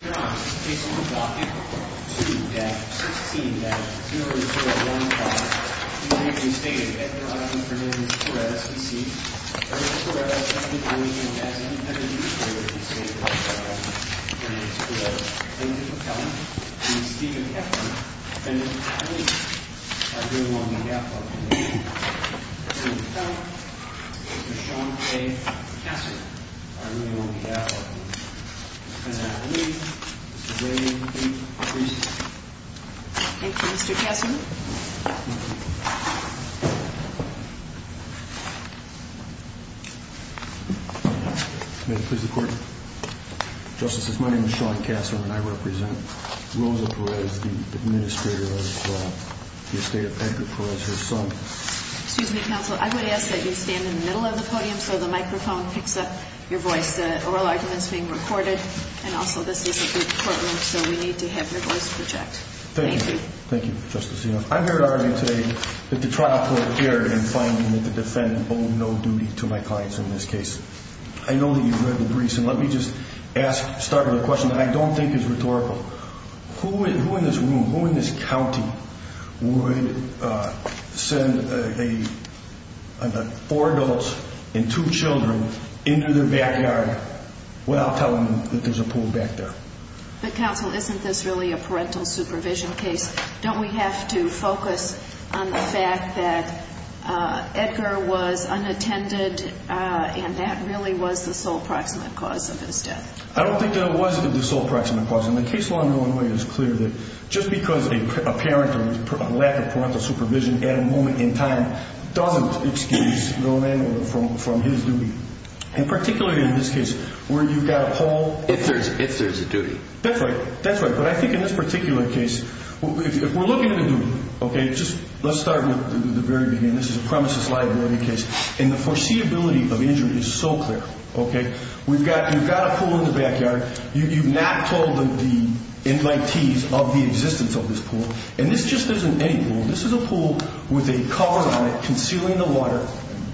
to that 16-0-015. In the state of Ecuador, in the province of Perez, we see that Perez has been going in as an intended use for the state of Ecuador. And it's the plaintiff of Pelham, the state of Heflin, and the plaintiffs are doing on behalf of the nation. The plaintiff of Pelham, Sean A. Cassar, are doing on behalf of the nation. And I believe Mr. Gray will be released. Thank you, Mr. Cassar. May it please the Court? Justices, my name is Sean Cassar and I represent Rosa Perez, the administrator of the estate of Edgar Perez, her son. Excuse me, Counselor, I would ask that you stand in the middle of the podium so the microphone picks up your voice. The oral argument is being recorded and also this is a good courtroom so we need to have your voice project. Thank you. Thank you, Justice. I'm here to argue today that the trial court erred in finding that the defendant owed no duty to my clients in this case. I know that you've read the briefs and let me just start with a question that I don't think is rhetorical. Who in this room, who in this county, would send four adults and two children into their backyard without telling them that there's a pool back there? But Counsel, isn't this really a parental supervision case? Don't we have to focus on the fact that Edgar was unattended and that really was the sole proximate cause of his death? I don't think that it was the sole proximate cause. And the case law in Illinois is clear that just because a parent or a lack of parental supervision at a moment in time doesn't excuse the old man from his duty. And particularly in this case where you've got a poll. If there's a duty. That's right. That's right. But I think in this particular case, if we're looking at a duty, okay, just let's start with the very beginning. This is a premises liability case. And the foreseeability of the injury is so clear, okay. You've got a pool in the backyard. You've not told the invitees of the existence of this pool. And this just isn't any pool. This is a pool with a cover on it concealing the water,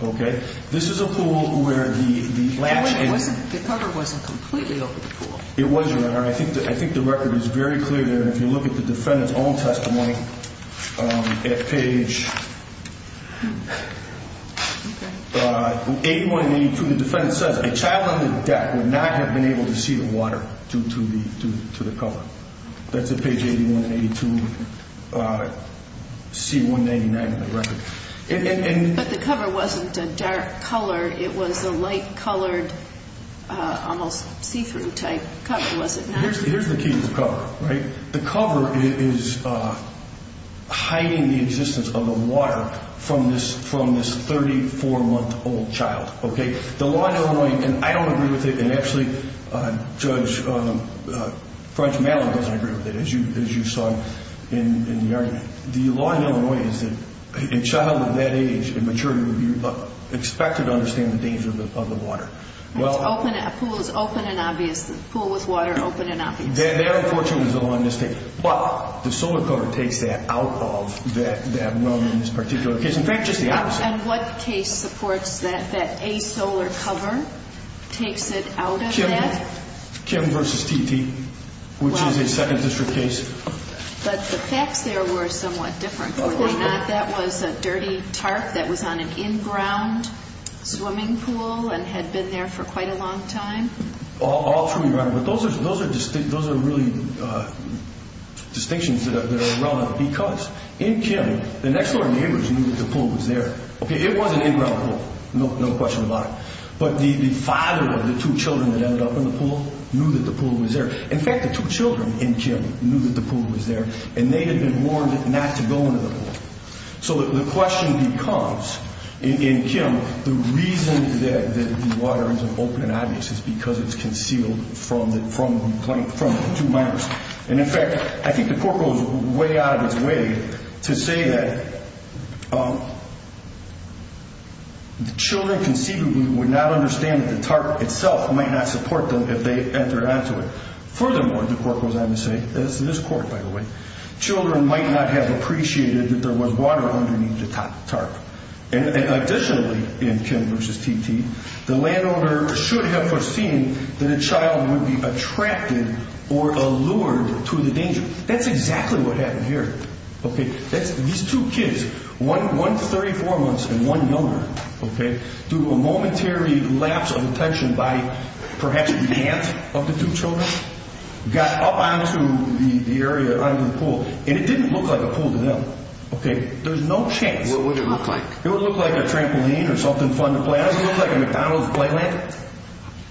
okay. This is a pool where the latch is. The cover wasn't completely over the pool. It wasn't. And I think the record is very clear there. If you look at the defendant's own testimony at page 8182, the defense says a child on the deck would not have been able to see the water due to the cover. That's at page 8182, C199 of the record. But the cover wasn't a dark color. It was a light colored, almost see-through type cover, was it not? Here's the key to the cover, right. The cover is hiding the existence of the water from this 34-month-old child, okay. The law in Illinois, and I don't agree with it, and actually Judge Mallory doesn't agree with it, as you saw in the argument. The law in Illinois is that a child of that age and maturity would be expected to understand the dangers of the water. A pool is open and obvious. A pool with water, open and obvious. That, unfortunately, is the law in this case. But the solar cover takes that out of that moment in this particular case. In fact, just the opposite. And what case supports that, that a solar cover takes it out of that? Kim versus TT, which is a 2nd District case. But the facts there were somewhat different, were they not? That was a dirty tarp that was on an in-ground swimming pool and had been there for quite a long time. All true, Your Honor, but those are really distinctions that are relevant because in Kim, the next-door neighbors knew that the pool was there. It was an in-ground pool, no question about it. But the father of the two children that ended up in the pool knew that the pool was there. In fact, the two children in Kim knew that the pool was there and they had been warned not to go into the pool. So the question becomes, in Kim, the reason that the water is open and obvious is because it's concealed from the two minors. And in fact, I think the court goes way out of its way to say that children conceivably would not understand that the tarp itself might not support them if they entered onto it. Furthermore, the court goes on to say, this court, by the way, children might not have appreciated that there was water underneath the tarp. And additionally, in Kim versus TT, the landowner should have foreseen that a child would be attracted or allured to the danger. That's exactly what happened here. These two kids, one 34 months and one younger, through a momentary lapse of attention by perhaps half of the two children, got up onto the area under the pool. And it didn't look like a pool to them. There's no chance. What would it look like? It would look like a trampoline or something fun to play on. It doesn't look like a McDonald's playland. But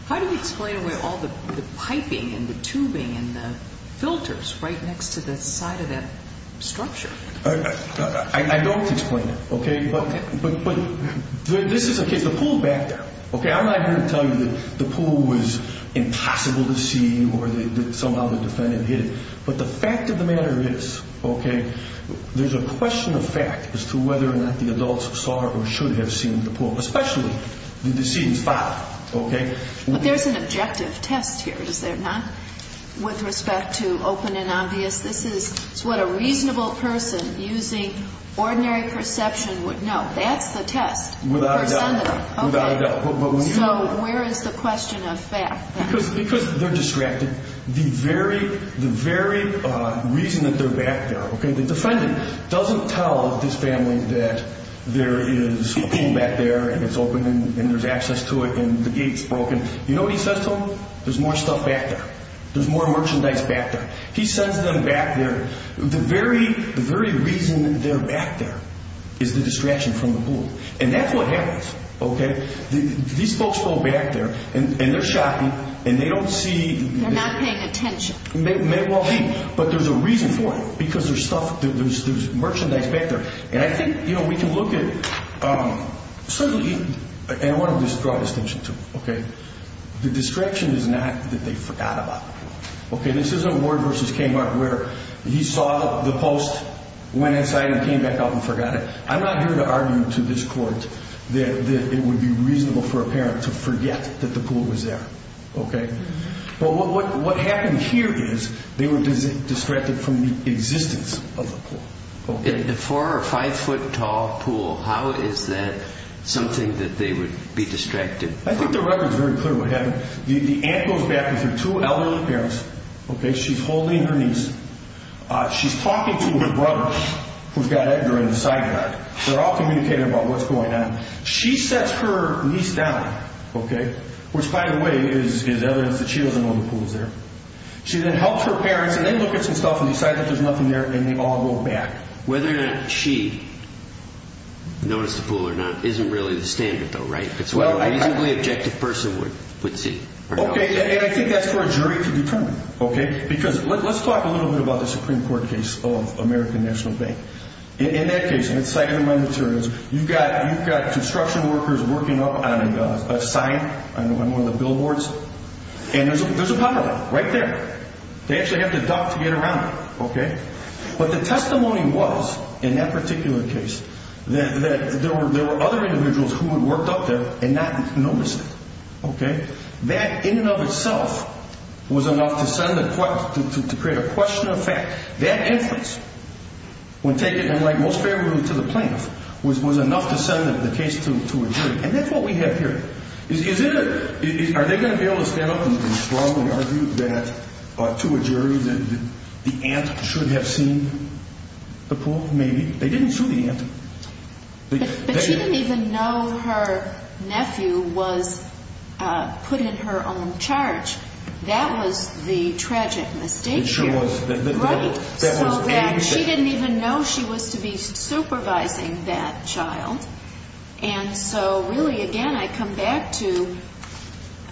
how do you explain away all the piping and the tubing and the filters right next to the side of that structure? I don't explain it. But this is the case. The pool is back there. I'm not here to tell you that the pool was impossible to see or that somehow the defendant hid it. But the fact of the matter is there's a question of fact as to whether or not the adults saw or should have seen the pool, especially the deceased father. But there's an objective test here, is there not? With respect to open and obvious, this is what a reasonable person using ordinary perception would know. That's the test. Without a doubt. So where is the question of fact? Because they're distracted. The very reason that they're back there, the defendant doesn't tell this family that there is a pool back there and it's open and there's access to it and the gate's broken. You know what he says to them? There's more stuff back there. There's more merchandise back there. He sends them back there. The very reason they're back there is the distraction from the pool. And that's what happens. These folks go back there, and they're shopping, and they don't see... They're not paying attention. Well, hey, but there's a reason for it because there's stuff, there's merchandise back there. And I think, you know, we can look at certainly, and I want to draw attention to, okay, the distraction is not that they forgot about the pool. Okay, this isn't Ward versus K-Mart where he saw the post, went inside and came back out and forgot it. I'm not here to argue to this court that it would be reasonable for a parent to forget that the pool was there. Okay? But what happened here is they were distracted from the existence of the pool. A four- or five-foot-tall pool, how is that something that they would be distracted from? I think the record's very clear what happened. The aunt goes back with her two elderly parents. Okay? She's holding her niece. She's talking to her brother, who's got Edgar in the sidecar. They're all communicating about what's going on. She sets her niece down, okay, which by the way is evidence that she doesn't know the pool's there. She then helps her parents, and they look at some stuff and decide that there's nothing there, and they all go back. Whether or not she noticed the pool or not isn't really the standard though, right? It's what a reasonably objective person would see. Okay, and I think that's for a jury to determine, okay? Because let's talk a little bit about the Supreme Court case of American National Bank. In that case, and it's cited in my materials, you've got construction workers working up on a sign on one of the billboards, and there's a puddle right there. They actually have to duck to get around it. Okay? But the testimony was, in that particular case, that there were other individuals who had worked up there and not noticed it. Okay? That in and of itself was enough to create a question of fact. That inference, when taken, like, most favorably to the plaintiff, was enough to send the case to a jury. And that's what we have here. Are they going to be able to stand up to the problem and argue that to a jury that the aunt should have seen the pool? Maybe. They didn't sue the aunt. But she didn't even know her nephew was put in her own charge. That was the tragic mistake here. It sure was. Right. So that she didn't even know she was to be supervising that child. And so, really, again, I come back to,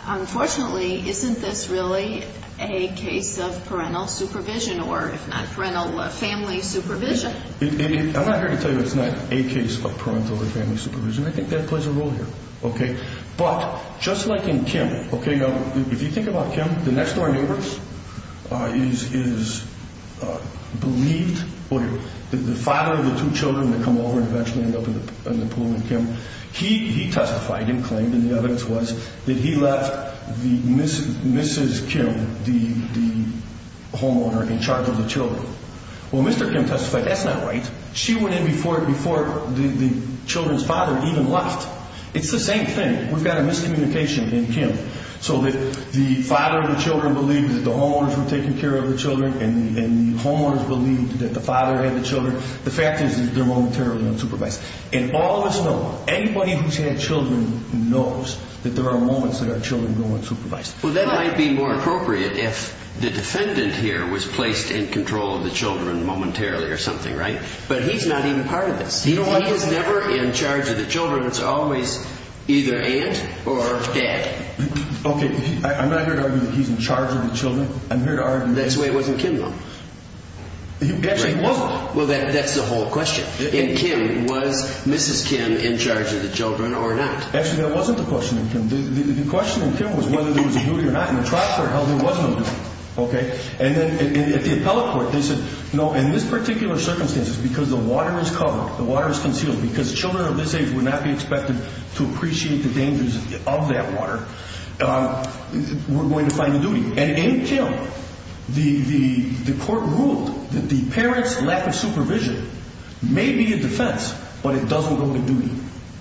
unfortunately, isn't this really a case of parental supervision or, if not parental, family supervision? I'm not here to tell you it's not a case of parental or family supervision. I think that plays a role here. Okay? But just like in Kim, okay, now, if you think about Kim, the next door neighbor is believed, the father of the two children that come over and eventually end up in the pool with Kim, he testified and claimed, and the evidence was, that he left Mrs. Kim, the homeowner, in charge of the children. Well, Mr. Kim testified, that's not right. She went in before the children's father even left. It's the same thing. We've got a miscommunication in Kim so that the father of the children believed that the homeowners were taking care of the children and the homeowners believed that the father had the children. The fact is that they're momentarily unsupervised. And all of us know, anybody who's had children knows that there are moments that our children go unsupervised. Well, that might be more appropriate if the defendant here was placed in control of the children momentarily or something, right? But he's not even part of this. He is never in charge of the children. It's always either aunt or dad. Okay, I'm not here to argue that he's in charge of the children. That's why it wasn't Kim, though. Actually, it wasn't. Well, that's the whole question. In Kim, was Mrs. Kim in charge of the children or not? Actually, that wasn't the question in Kim. The question in Kim was whether there was a duty or not. In the trial they're held, there was no duty. Okay? And then at the appellate court, they said, no, in this particular circumstance, because the water is covered, the water is concealed, because children of this age would not be expected to appreciate the dangers of that water, we're going to find a duty. And in Kim, the court ruled that the parents' lack of supervision may be a defense, but it doesn't hold a duty.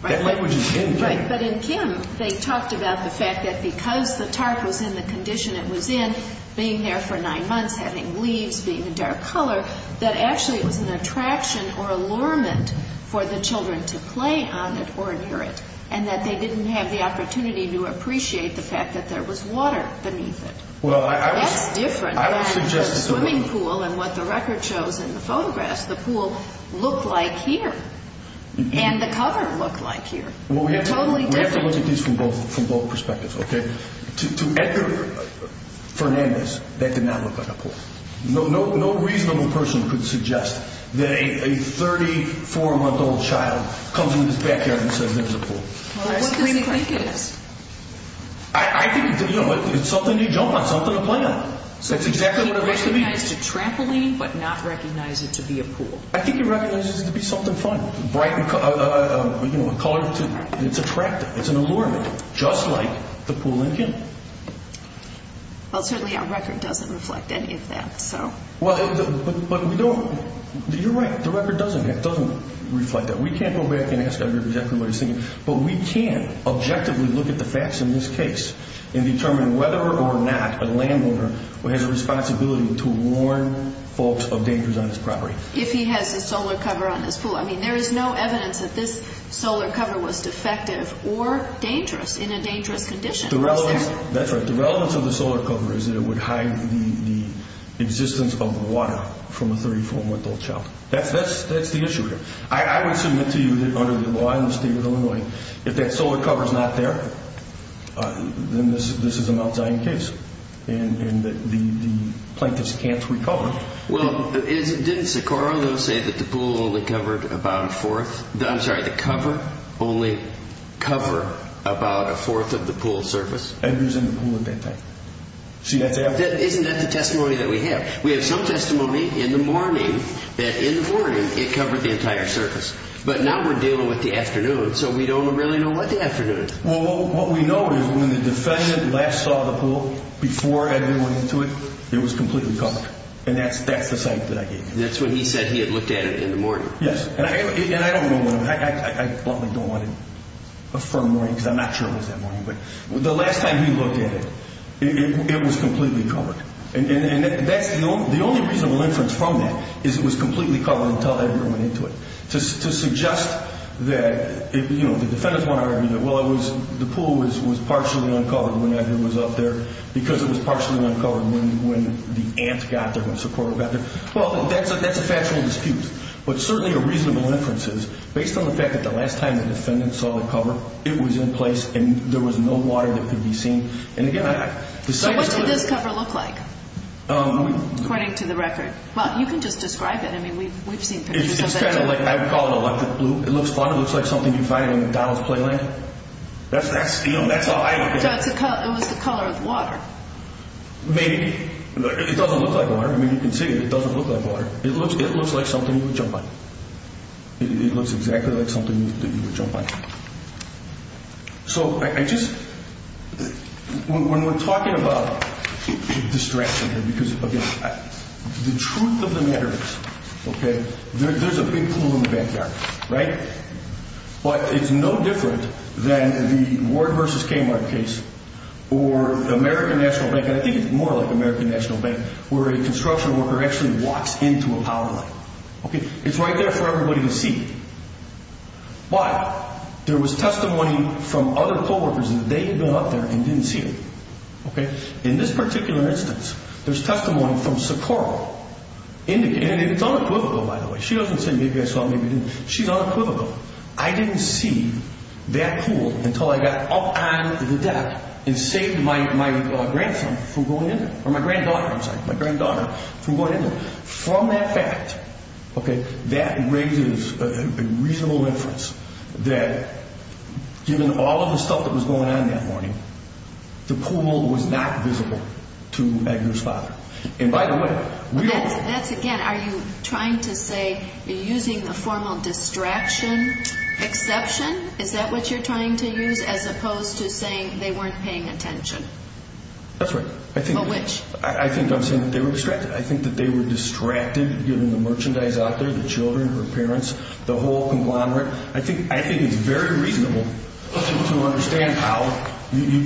That language is in Kim. Right. But in Kim, they talked about the fact that because the tarp was in the condition it was in, being there for nine months, having leaves, being a dark color, that actually it was an attraction or allurement for the children to play on it or adhere it, and that they didn't have the opportunity to appreciate the fact that there was water beneath it. That's different than the swimming pool and what the record shows in the photographs. The pool looked like here, and the cover looked like here. They're totally different. We have to look at these from both perspectives, okay? To Edgar Fernandez, that did not look like a pool. No reasonable person could suggest that a 34-month-old child comes into this backyard and says there's a pool. What does he think it is? I think it's something you jump on, something to play on. So does he recognize it's a trampoline but not recognize it to be a pool? I think he recognizes it to be something fun, bright and colorful. It's attractive. It's an allurement, just like the pool in Kim. Well, certainly our record doesn't reflect any of that. Well, you're right. The record doesn't reflect that. We can't go back and ask Edgar exactly what he's thinking, but we can objectively look at the facts in this case and determine whether or not a landowner has a responsibility to warn folks of dangers on his property. If he has a solar cover on his pool. I mean, there is no evidence that this solar cover was defective or dangerous in a dangerous condition. That's right. The relevance of the solar cover is that it would hide the existence of water from a 34-month-old child. That's the issue here. I would submit to you that under the law in the state of Illinois, if that solar cover is not there, then this is a Mount Zion case and the plaintiffs can't recover. Well, didn't Socorro, though, say that the cover only covered about a fourth of the pool's surface? Edgar's in the pool at that time. Isn't that the testimony that we have? We have some testimony in the morning that in the morning it covered the entire surface, but now we're dealing with the afternoon, so we don't really know what the afternoon is. Well, what we know is when the defendant last saw the pool before Edgar went into it, it was completely covered, and that's the site that I gave you. That's when he said he had looked at it in the morning. Yes, and I don't know when. I bluntly don't want to affirm morning because I'm not sure it was that morning, but the last time he looked at it, it was completely covered. And the only reasonable inference from that is it was completely covered until Edgar went into it. To suggest that the defendants want to argue that, well, the pool was partially uncovered when Edgar was up there because it was partially uncovered when the ant got there, when Socorro got there, well, that's a factual dispute. But certainly a reasonable inference is, based on the fact that the last time the defendant saw the cover, it was in place and there was no water that could be seen. So what did this cover look like, according to the record? Well, you can just describe it. I mean, we've seen pictures of it. It's kind of like I would call it electric blue. It looks fun. It looks like something you'd find in a McDonald's Playland. That's steel. That's how I would describe it. So it was the color of water. Maybe. It doesn't look like water. I mean, you can see it. It doesn't look like water. It looks like something you would jump on. It looks exactly like something that you would jump on. So I just – when we're talking about distraction here, because, again, the truth of the matter is, okay, there's a big pool in the backyard, right? But it's no different than the Ward v. Kmart case or the American National Bank, and I think it's more like American National Bank, where a construction worker actually walks into a power line. It's right there for everybody to see. Why? There was testimony from other co-workers that they had been up there and didn't see it. In this particular instance, there's testimony from Socorro. And it's unequivocal, by the way. She doesn't say maybe I saw it, maybe I didn't. She's unequivocal. I didn't see that pool until I got up on the deck and saved my grandson from going in there, or my granddaughter, I'm sorry, my granddaughter from going in there. From that fact, okay, that raises a reasonable inference that given all of the stuff that was going on that morning, the pool was not visible to Edgar's father. And by the way – That's, again, are you trying to say you're using the formal distraction exception? Is that what you're trying to use as opposed to saying they weren't paying attention? That's right. Of which? I think I'm saying that they were distracted. I think that they were distracted given the merchandise out there, the children, her parents, the whole conglomerate. I think it's very reasonable to understand how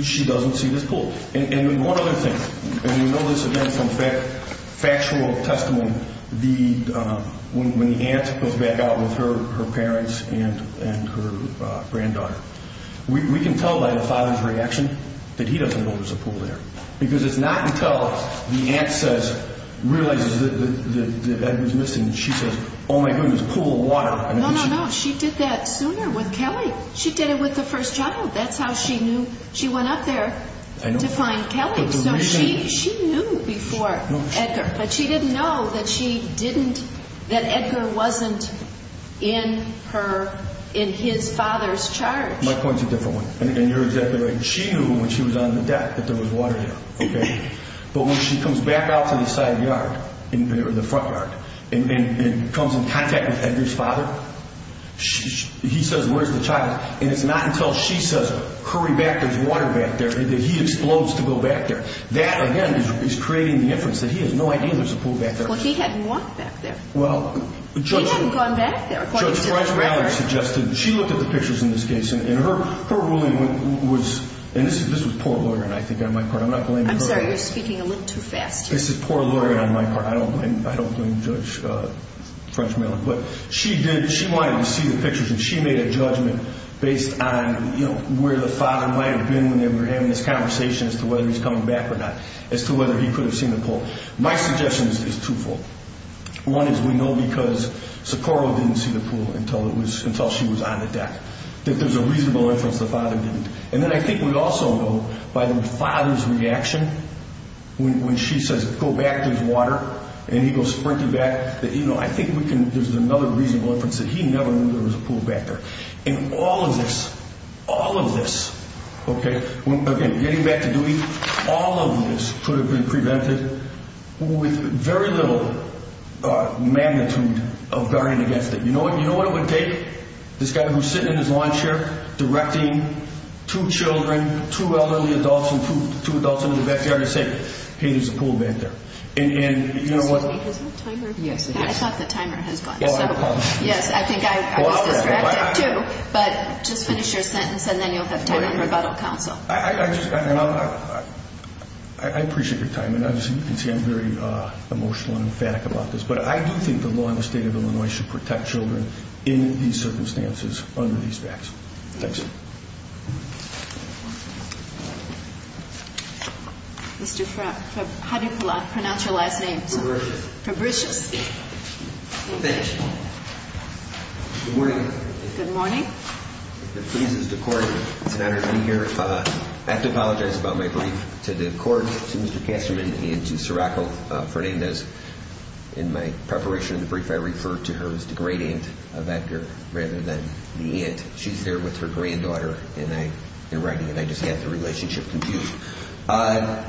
she doesn't see this pool. And one other thing, and you know this again from factual testimony, when the aunt goes back out with her parents and her granddaughter, we can tell by the father's reaction that he doesn't know there's a pool there because it's not until the aunt says, realizes that Edgar's missing, and she says, oh my goodness, pool of water. No, no, no. She did that sooner with Kelly. She did it with the first child. That's how she knew. She went up there to find Kelly. So she knew before Edgar. But she didn't know that she didn't, that Edgar wasn't in her, in his father's charge. My point's a different one. And you're exactly right. She knew when she was on the deck that there was water there. But when she comes back out to the side of the yard, or the front yard, and comes in contact with Edgar's father, he says, where's the child? And it's not until she says, hurry back, there's water back there, that he explodes to go back there. That, again, is creating the inference that he has no idea there's a pool back there. But he hadn't walked back there. He hadn't gone back there. Judge French-Mallard suggested, she looked at the pictures in this case, and her ruling was, and this was poor lawyering, I think, on my part. I'm not blaming her. I'm sorry. You're speaking a little too fast. This is poor lawyering on my part. I don't blame Judge French-Mallard. But she did, she wanted to see the pictures, and she made a judgment based on where the father might have been when they were having this conversation as to whether he was coming back or not, as to whether he could have seen the pool. My suggestion is twofold. One is we know because Socorro didn't see the pool until she was on the deck, that there's a reasonable inference the father didn't. And then I think we also know by the father's reaction when she says, go back, there's water, and he goes sprinting back, that I think there's another reasonable inference that he never knew there was a pool back there. And all of this, all of this, okay, getting back to Dewey, all of this could have been prevented with very little magnitude of guarding against it. You know what it would take? This guy who's sitting in his lawn chair directing two children, two elderly adults and two adults in the backyard and saying, hey, there's a pool back there. And you know what? Excuse me, has my timer gone? Yes, it is. I thought the timer has gone. Oh, I apologize. Yes, I think I was distracted too. But just finish your sentence, and then you'll have time for rebuttal counsel. I appreciate your time. And as you can see, I'm very emotional and emphatic about this. But I do think the law in the state of Illinois should protect children in these circumstances under these facts. Thanks. Mr. Frey, how do you pronounce your last name? Fabricius. Fabricius. Thank you. Good morning. Good morning. If it pleases the Court, it's an honor to be here. I have to apologize about my brief. To the Court, to Mr. Kasterman, and to Siraco Fernandez, in my preparation of the brief, I referred to her as the great-aunt of Edgar rather than the aunt. She's there with her granddaughter in writing, and I just had the relationship confused. That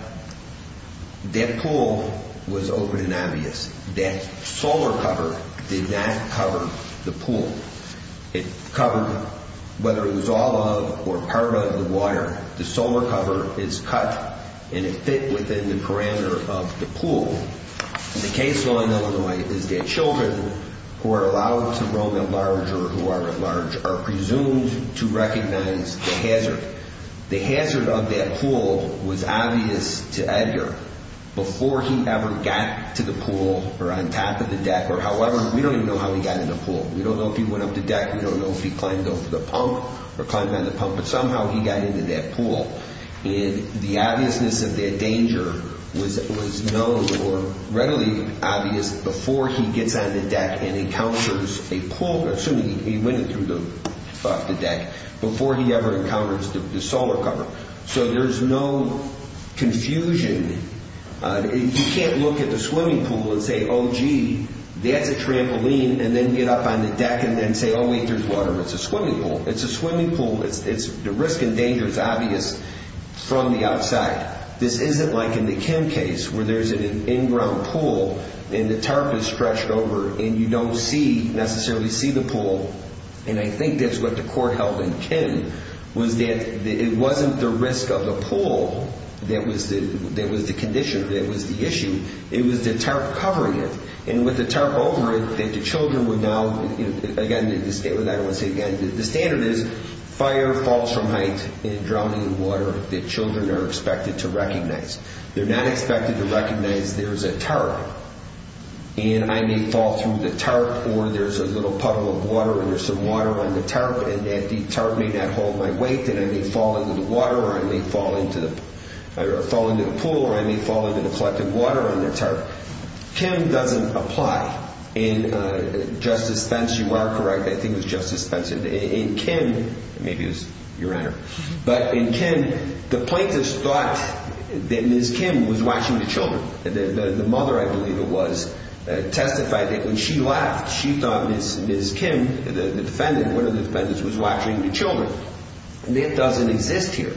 pool was open and obvious. That solar cover did not cover the pool. It covered whether it was all of or part of the water. The solar cover is cut, and it fit within the perimeter of the pool. The case law in Illinois is that children who are allowed to roam at large or who are at large are presumed to recognize the hazard. The hazard of that pool was obvious to Edgar before he ever got to the pool or on top of the deck or however. We don't know if he went up the deck. We don't know if he climbed over the pump or climbed on the pump. But somehow he got into that pool, and the obviousness of that danger was known or readily obvious before he gets on the deck and encounters a pool, assuming he went through the deck, before he ever encounters the solar cover. So there's no confusion. You can't look at the swimming pool and say, oh, gee, that's a trampoline, and then get up on the deck and then say, oh, wait, there's water. It's a swimming pool. It's a swimming pool. The risk and danger is obvious from the outside. This isn't like in the Kim case where there's an in-ground pool, and the tarp is stretched over, and you don't see, necessarily see the pool. And I think that's what the court held in Kim, was that it wasn't the risk of the pool that was the condition, that was the issue. It was the tarp covering it. And with the tarp over it, the children would now, again, the standard is fire falls from height and drowning in water that children are expected to recognize. They're not expected to recognize there's a tarp, and I may fall through the tarp, or there's a little puddle of water, and there's some water on the tarp, and that tarp may not hold my weight, and I may fall into the water, or I may fall into the pool, or I may fall into the collected water on the tarp. Kim doesn't apply. In Justice Pence, you are correct. I think it was Justice Pence. In Kim, maybe it was your Honor. But in Kim, the plaintiffs thought that Ms. Kim was washing the children. The mother, I believe it was, testified that when she left, she thought Ms. Kim, the defendant, one of the defendants, was washing the children. That doesn't exist here.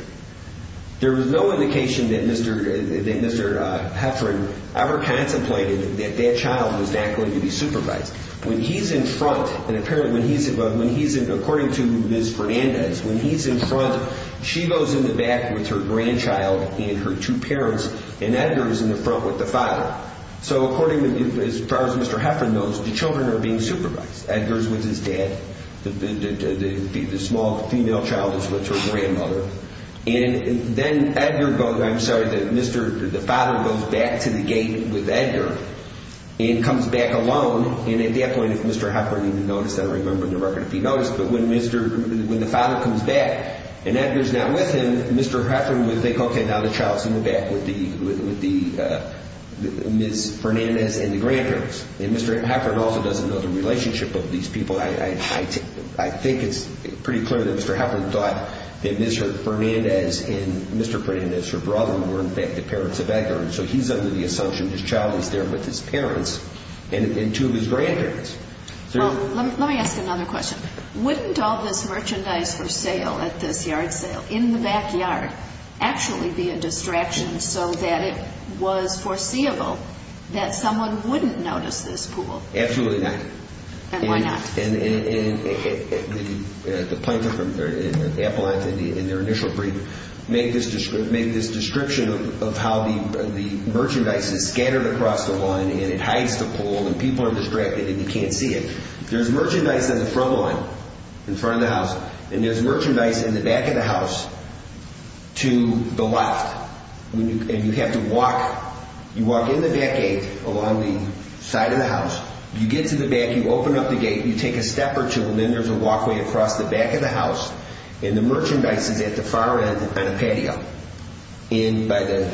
There was no indication that Mr. Heffron ever contemplated that that child was not going to be supervised. When he's in front, and apparently when he's in front, according to Ms. Fernandez, when he's in front, she goes in the back with her grandchild and her two parents, and Edgar is in the front with the father. So according to, as far as Mr. Heffron knows, the children are being supervised. Edgar is with his dad. The small female child is with her grandmother. And then Edgar goes, I'm sorry, the father goes back to the gate with Edgar and comes back alone. And at that point, if Mr. Heffron even noticed, I don't remember on the record if he noticed, but when the father comes back and Edgar is not with him, Mr. Heffron would think, okay, now the child is in the back with Ms. Fernandez and the grandparents. And Mr. Heffron also doesn't know the relationship of these people. I think it's pretty clear that Mr. Heffron thought that Ms. Fernandez and Mr. Fernandez, her brother, were in fact the parents of Edgar. And so he's under the assumption his child is there with his parents and two of his grandparents. Well, let me ask another question. Wouldn't all this merchandise for sale at this yard sale in the backyard actually be a distraction so that it was foreseeable that someone wouldn't notice this pool? Absolutely not. And why not? And the plaintiff and the appellant in their initial briefing make this description of how the merchandise is scattered across the lawn and it hides the pool and people are distracted and you can't see it. There's merchandise on the front lawn, in front of the house, and there's merchandise in the back of the house to the left. And you have to walk. You walk in the back gate along the side of the house. You get to the back, you open up the gate, you take a step or two, and then there's a walkway across the back of the house and the merchandise is at the far end on a patio by the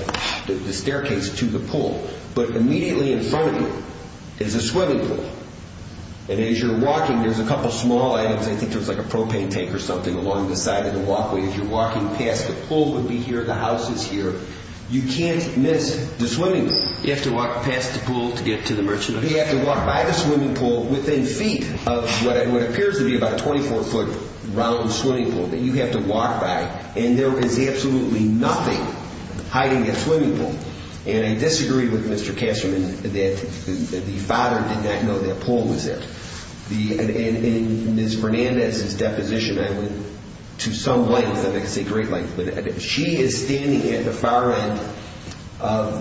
staircase to the pool. But immediately in front of you is a swimming pool. And as you're walking, there's a couple of small items. I think there's like a propane tank or something along the side of the walkway. As you're walking past, the pool would be here, the house is here. You can't miss the swimming pool. You have to walk past the pool to get to the merchandise. You have to walk by the swimming pool within feet of what appears to be about a 24-foot round swimming pool that you have to walk by, and there is absolutely nothing hiding in the swimming pool. And I disagree with Mr. Kasterman that the father did not know that the pool was there. In Ms. Fernandez's deposition, to some length, I'm not going to say great length, but she is standing at the far end by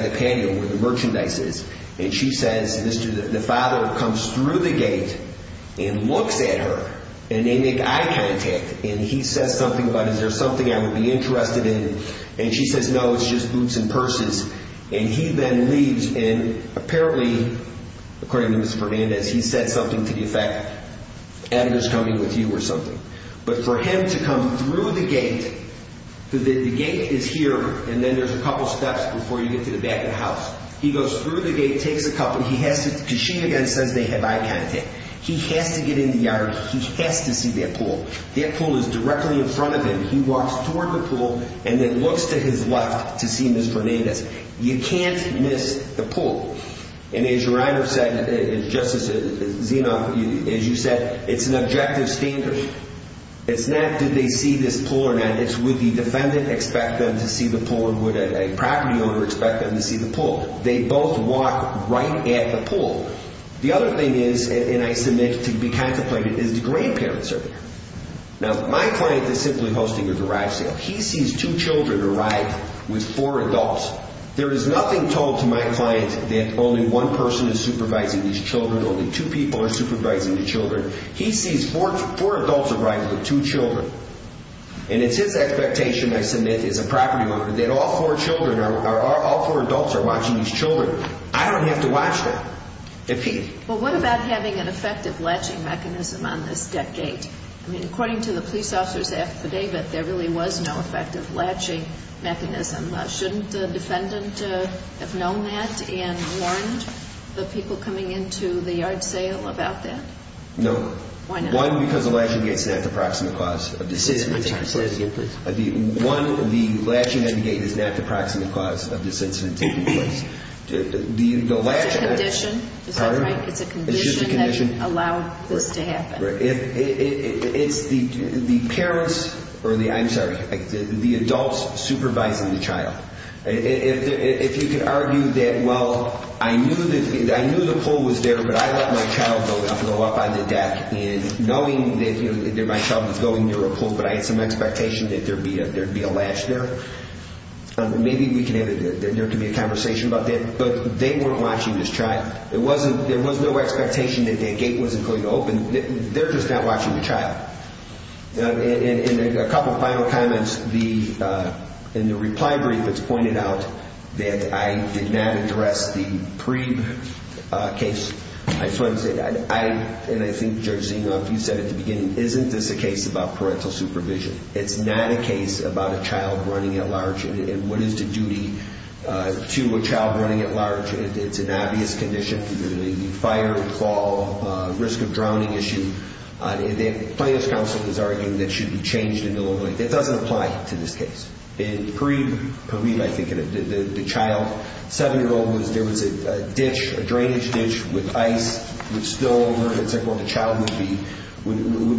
the patio where the merchandise is. And she says, the father comes through the gate and looks at her, and they make eye contact. And he says something about, is there something I would be interested in? And she says, no, it's just boots and purses. And he then leaves, and apparently, according to Ms. Fernandez, he said something to the effect, Adam is coming with you or something. But for him to come through the gate, the gate is here, and then there's a couple steps before you get to the back of the house. He goes through the gate, takes a couple, he has to, because she again says they have eye contact, he has to get in the yard, he has to see that pool. That pool is directly in front of him. He walks toward the pool and then looks to his left to see Ms. Fernandez. You can't miss the pool. And as your honor said, Justice Zenoff, as you said, it's an objective standard. It's not did they see this pool or not, it's would the defendant expect them to see the pool or would a property owner expect them to see the pool. They both walk right at the pool. The other thing is, and I submit to be contemplated, is the grandparents are there. Now, my client is simply hosting a garage sale. He sees two children arrive with four adults. There is nothing told to my client that only one person is supervising these children, only two people are supervising the children. He sees four adults arriving with two children, and it's his expectation, I submit, as a property owner, that all four adults are watching these children. I don't have to watch them. Well, what about having an effective latching mechanism on this deck gate? I mean, according to the police officer's affidavit, there really was no effective latching mechanism. Shouldn't the defendant have known that and warned the people coming into the yard sale about that? No. Why not? One, because the latching gate is not the proximate cause of this incident taking place. Say that again, please. One, the latching end gate is not the proximate cause of this incident taking place. It's a condition, is that right? It's just a condition. It's a condition that allowed this to happen. It's the parents, or the, I'm sorry, the adults supervising the child. If you could argue that, well, I knew the pull was there, but I let my child go up on the deck, and knowing that my child was going near a pull, but I had some expectation that there would be a latch there. Maybe there can be a conversation about that, but they weren't watching this child. There was no expectation that that gate wasn't going to open. They're just not watching the child. And a couple of final comments. In the reply brief, it's pointed out that I did not address the pre-case. I just wanted to say that. And I think, Judge Sengoff, you said at the beginning, isn't this a case about parental supervision? It's not a case about a child running at large. And what is the duty to a child running at large? It's an obvious condition. The fire, fall, risk of drowning issue. Plaintiff's counsel is arguing that it should be changed into local. It doesn't apply to this case. In period, I think, the child, 7-year-old, there was a ditch, a drainage ditch with ice, with snow over it. The child would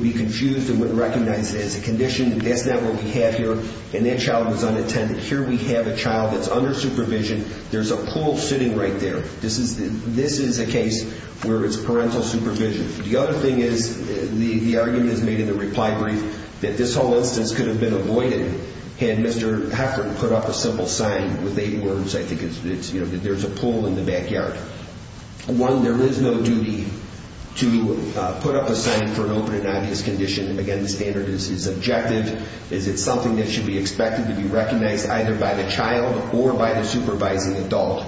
be confused and wouldn't recognize it as a condition. That's not what we have here. And that child was unattended. Here we have a child that's under supervision. There's a pool sitting right there. This is a case where it's parental supervision. The other thing is, the argument is made in the reply brief, that this whole instance could have been avoided had Mr. Heffern put up a simple sign with eight words. I think there's a pool in the backyard. One, there is no duty to put up a sign for an open and obvious condition. Again, the standard is subjective. Is it something that should be expected to be recognized either by the child or by the supervising adult?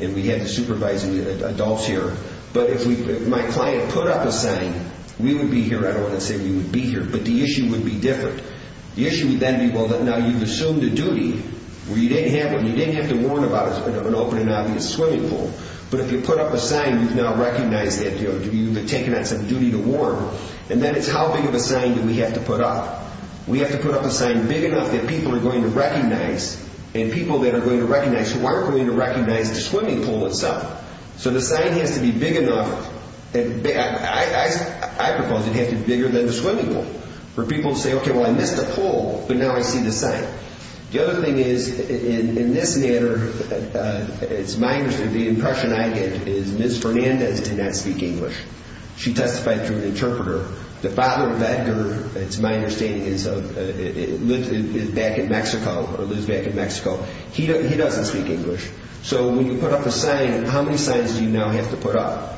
And we have the supervising adults here. But if my client put up a sign, we would be here. I don't want to say we would be here, but the issue would be different. The issue would then be, well, now you've assumed a duty where you didn't have to warn about an open and obvious swimming pool. But if you put up a sign, you've now recognized it. You've taken on some duty to warn. And then it's how big of a sign do we have to put up. We have to put up a sign big enough that people are going to recognize and people that are going to recognize who aren't going to recognize the swimming pool itself. So the sign has to be big enough. I propose it has to be bigger than the swimming pool for people to say, okay, well, I missed a pool, but now I see the sign. The other thing is, in this matter, it's my understanding, the impression I get is Ms. Fernandez did not speak English. She testified through the interpreter. The father of Edgar, it's my understanding, lives back in Mexico. He doesn't speak English. So when you put up a sign, how many signs do you now have to put up?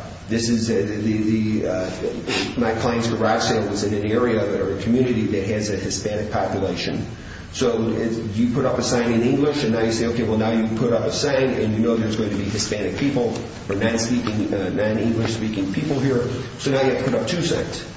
My client's garage sale was in an area or a community that has a Hispanic population. So you put up a sign in English, and now you say, okay, well, now you put up a sign and you know there's going to be Hispanic people or non-English-speaking people here. So now you have to put up two signs.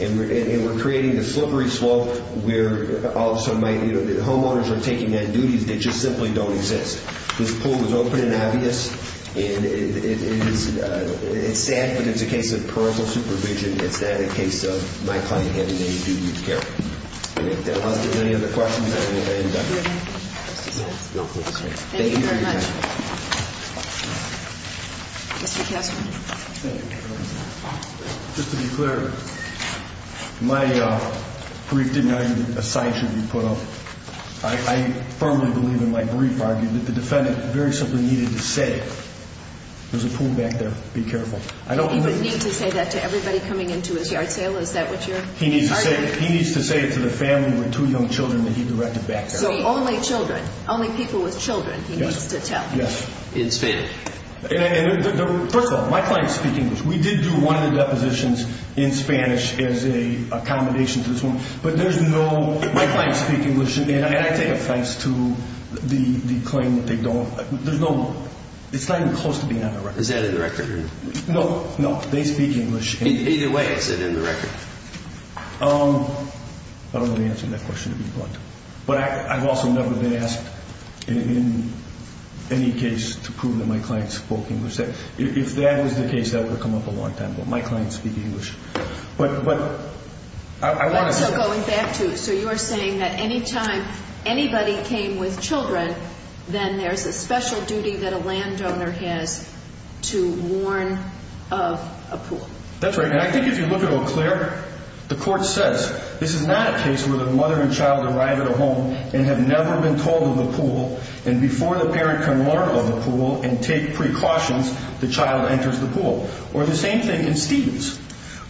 And we're creating the slippery slope where all of a sudden my homeowners are taking on duties that just simply don't exist. This pool was open and obvious. And it's sad, but it's a case of personal supervision. It's not a case of my client having any duty of care. Okay. I think that answers any of the questions. Thank you very much. Mr. Kessler. Just to be clear, my brief did not even assign to be put up. I firmly believe in my brief argument that the defendant very simply needed to say, there's a pool back there, be careful. He would need to say that to everybody coming into his yard sale? Is that what you're arguing? He needs to say it to the family with two young children that he directed back there. So only children, only people with children he needs to tell? Yes. In Spanish? First of all, my clients speak English. We did do one of the depositions in Spanish as an accommodation to this one. But there's no – my clients speak English, and I take offense to the claim that they don't. There's no – it's not even close to being on the record. Is that in the record? No, no. They speak English. Either way, is it in the record? I don't want to answer that question to be blunt. But I've also never been asked in any case to prove that my client spoke English. If that was the case, that would come up a long time ago. My clients speak English. But I want to say – So going back to – so you're saying that any time anybody came with children, then there's a special duty that a landowner has to warn of a pool? That's right. And I think if you look at Eau Claire, the court says this is not a case where the mother and child arrive at a home and have never been told of a pool, and before the parent can warn of a pool and take precautions, the child enters the pool. Or the same thing in Stevens.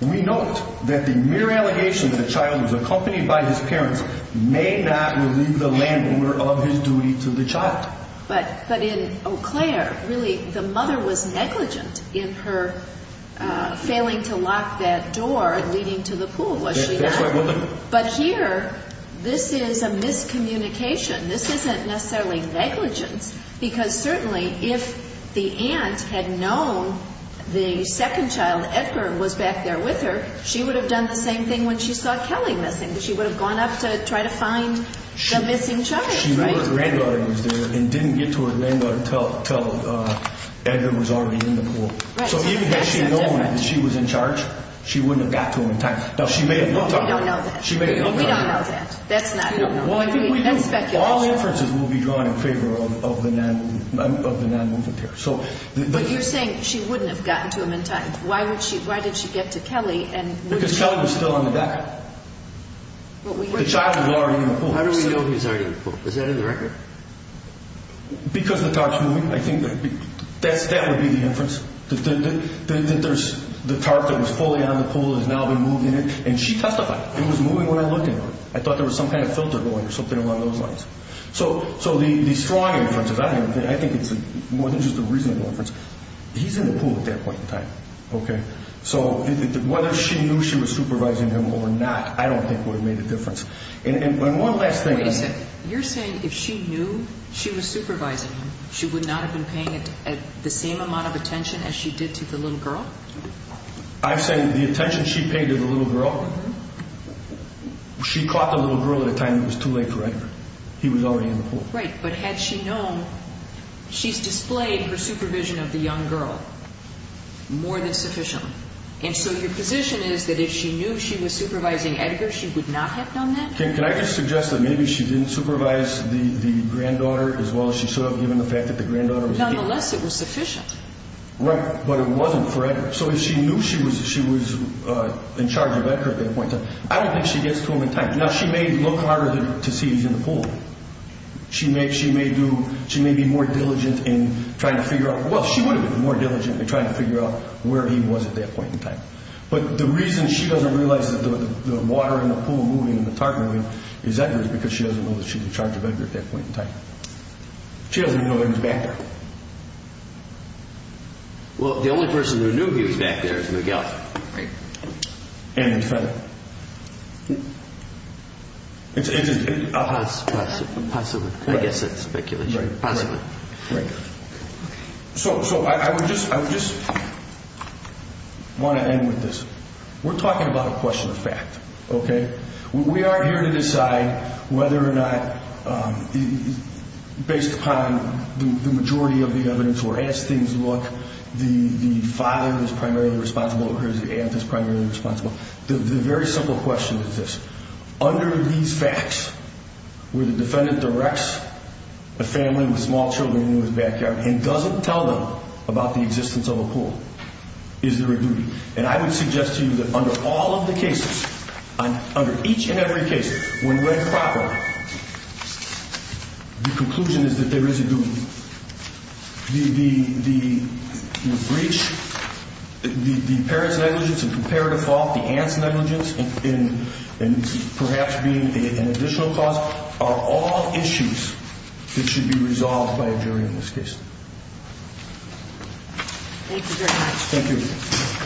We note that the mere allegation that a child was accompanied by his parents may not relieve the landowner of his duty to the child. But in Eau Claire, really, the mother was negligent in her failing to lock that door leading to the pool, was she not? That's right. But here, this is a miscommunication. This isn't necessarily negligence. Because certainly, if the aunt had known the second child, Edgar, was back there with her, she would have done the same thing when she saw Kelly missing. She would have gone up to try to find the missing child, right? She knew her granddaughter was there and didn't get to her granddaughter until Edgar was already in the pool. So even had she known that she was in charge, she wouldn't have gotten to him in time. Now, she may have gotten to him in time. We don't know that. She may have gotten to him in time. We don't know that. That's not known. That's speculation. All inferences will be drawn in favor of the non-movement pair. But you're saying she wouldn't have gotten to him in time. Why did she get to Kelly? Because Kelly was still on the deck. The child was already in the pool. How do we know he was already in the pool? Is that in the record? Because the tarp's moving. I think that would be the inference, that the tarp that was fully on the pool has now been moved in it. And she testified. It was moving when I looked at it. I thought there was some kind of filter going or something along those lines. So the strong inference is I think it's more than just a reasonable inference. He's in the pool at that point in time, okay? So whether she knew she was supervising him or not, I don't think would have made a difference. And one last thing. Wait a second. You're saying if she knew she was supervising him, she would not have been paying the same amount of attention as she did to the little girl? I'm saying the attention she paid to the little girl, she caught the little girl at a time that was too late for her. He was already in the pool. Right. But had she known, she's displayed her supervision of the young girl more than sufficiently. And so your position is that if she knew she was supervising Edgar, she would not have done that? Can I just suggest that maybe she didn't supervise the granddaughter as well as she should have given the fact that the granddaughter was in the pool? Nonetheless, it was sufficient. Right. But it wasn't for Edgar. So if she knew she was in charge of Edgar at that point in time, I don't think she gets to him in time. Now, she may look harder to see he's in the pool. She may be more diligent in trying to figure out, well, she would have been more diligent in trying to figure out where he was at that point in time. But the reason she doesn't realize that the water in the pool moving and the tarp moving is Edgar is because she doesn't know that she's in charge of Edgar at that point in time. She doesn't even know that he's back there. Well, the only person who knew he was back there is Miguel. Right. And his father. Possibly. I guess it's speculation. Possibly. Right. So I would just want to end with this. We're talking about a question of fact, okay? We aren't here to decide whether or not, based upon the majority of the evidence or as things look, the father is primarily responsible or the aunt is primarily responsible. The very simple question is this. Under these facts, where the defendant directs a family with small children in his backyard and doesn't tell them about the existence of a pool, is there a duty? And I would suggest to you that under all of the cases, under each and every case, when read properly, the conclusion is that there is a duty. The breach, the parent's negligence in comparative fault, the aunt's negligence in perhaps being an additional cause are all issues that should be resolved by a jury in this case. Thank you very much. Thank you.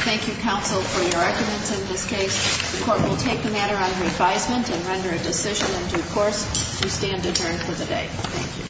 Thank you, counsel, for your arguments in this case. The court will take the matter under advisement and render a decision in due course to stand adjourned for the day. Thank you.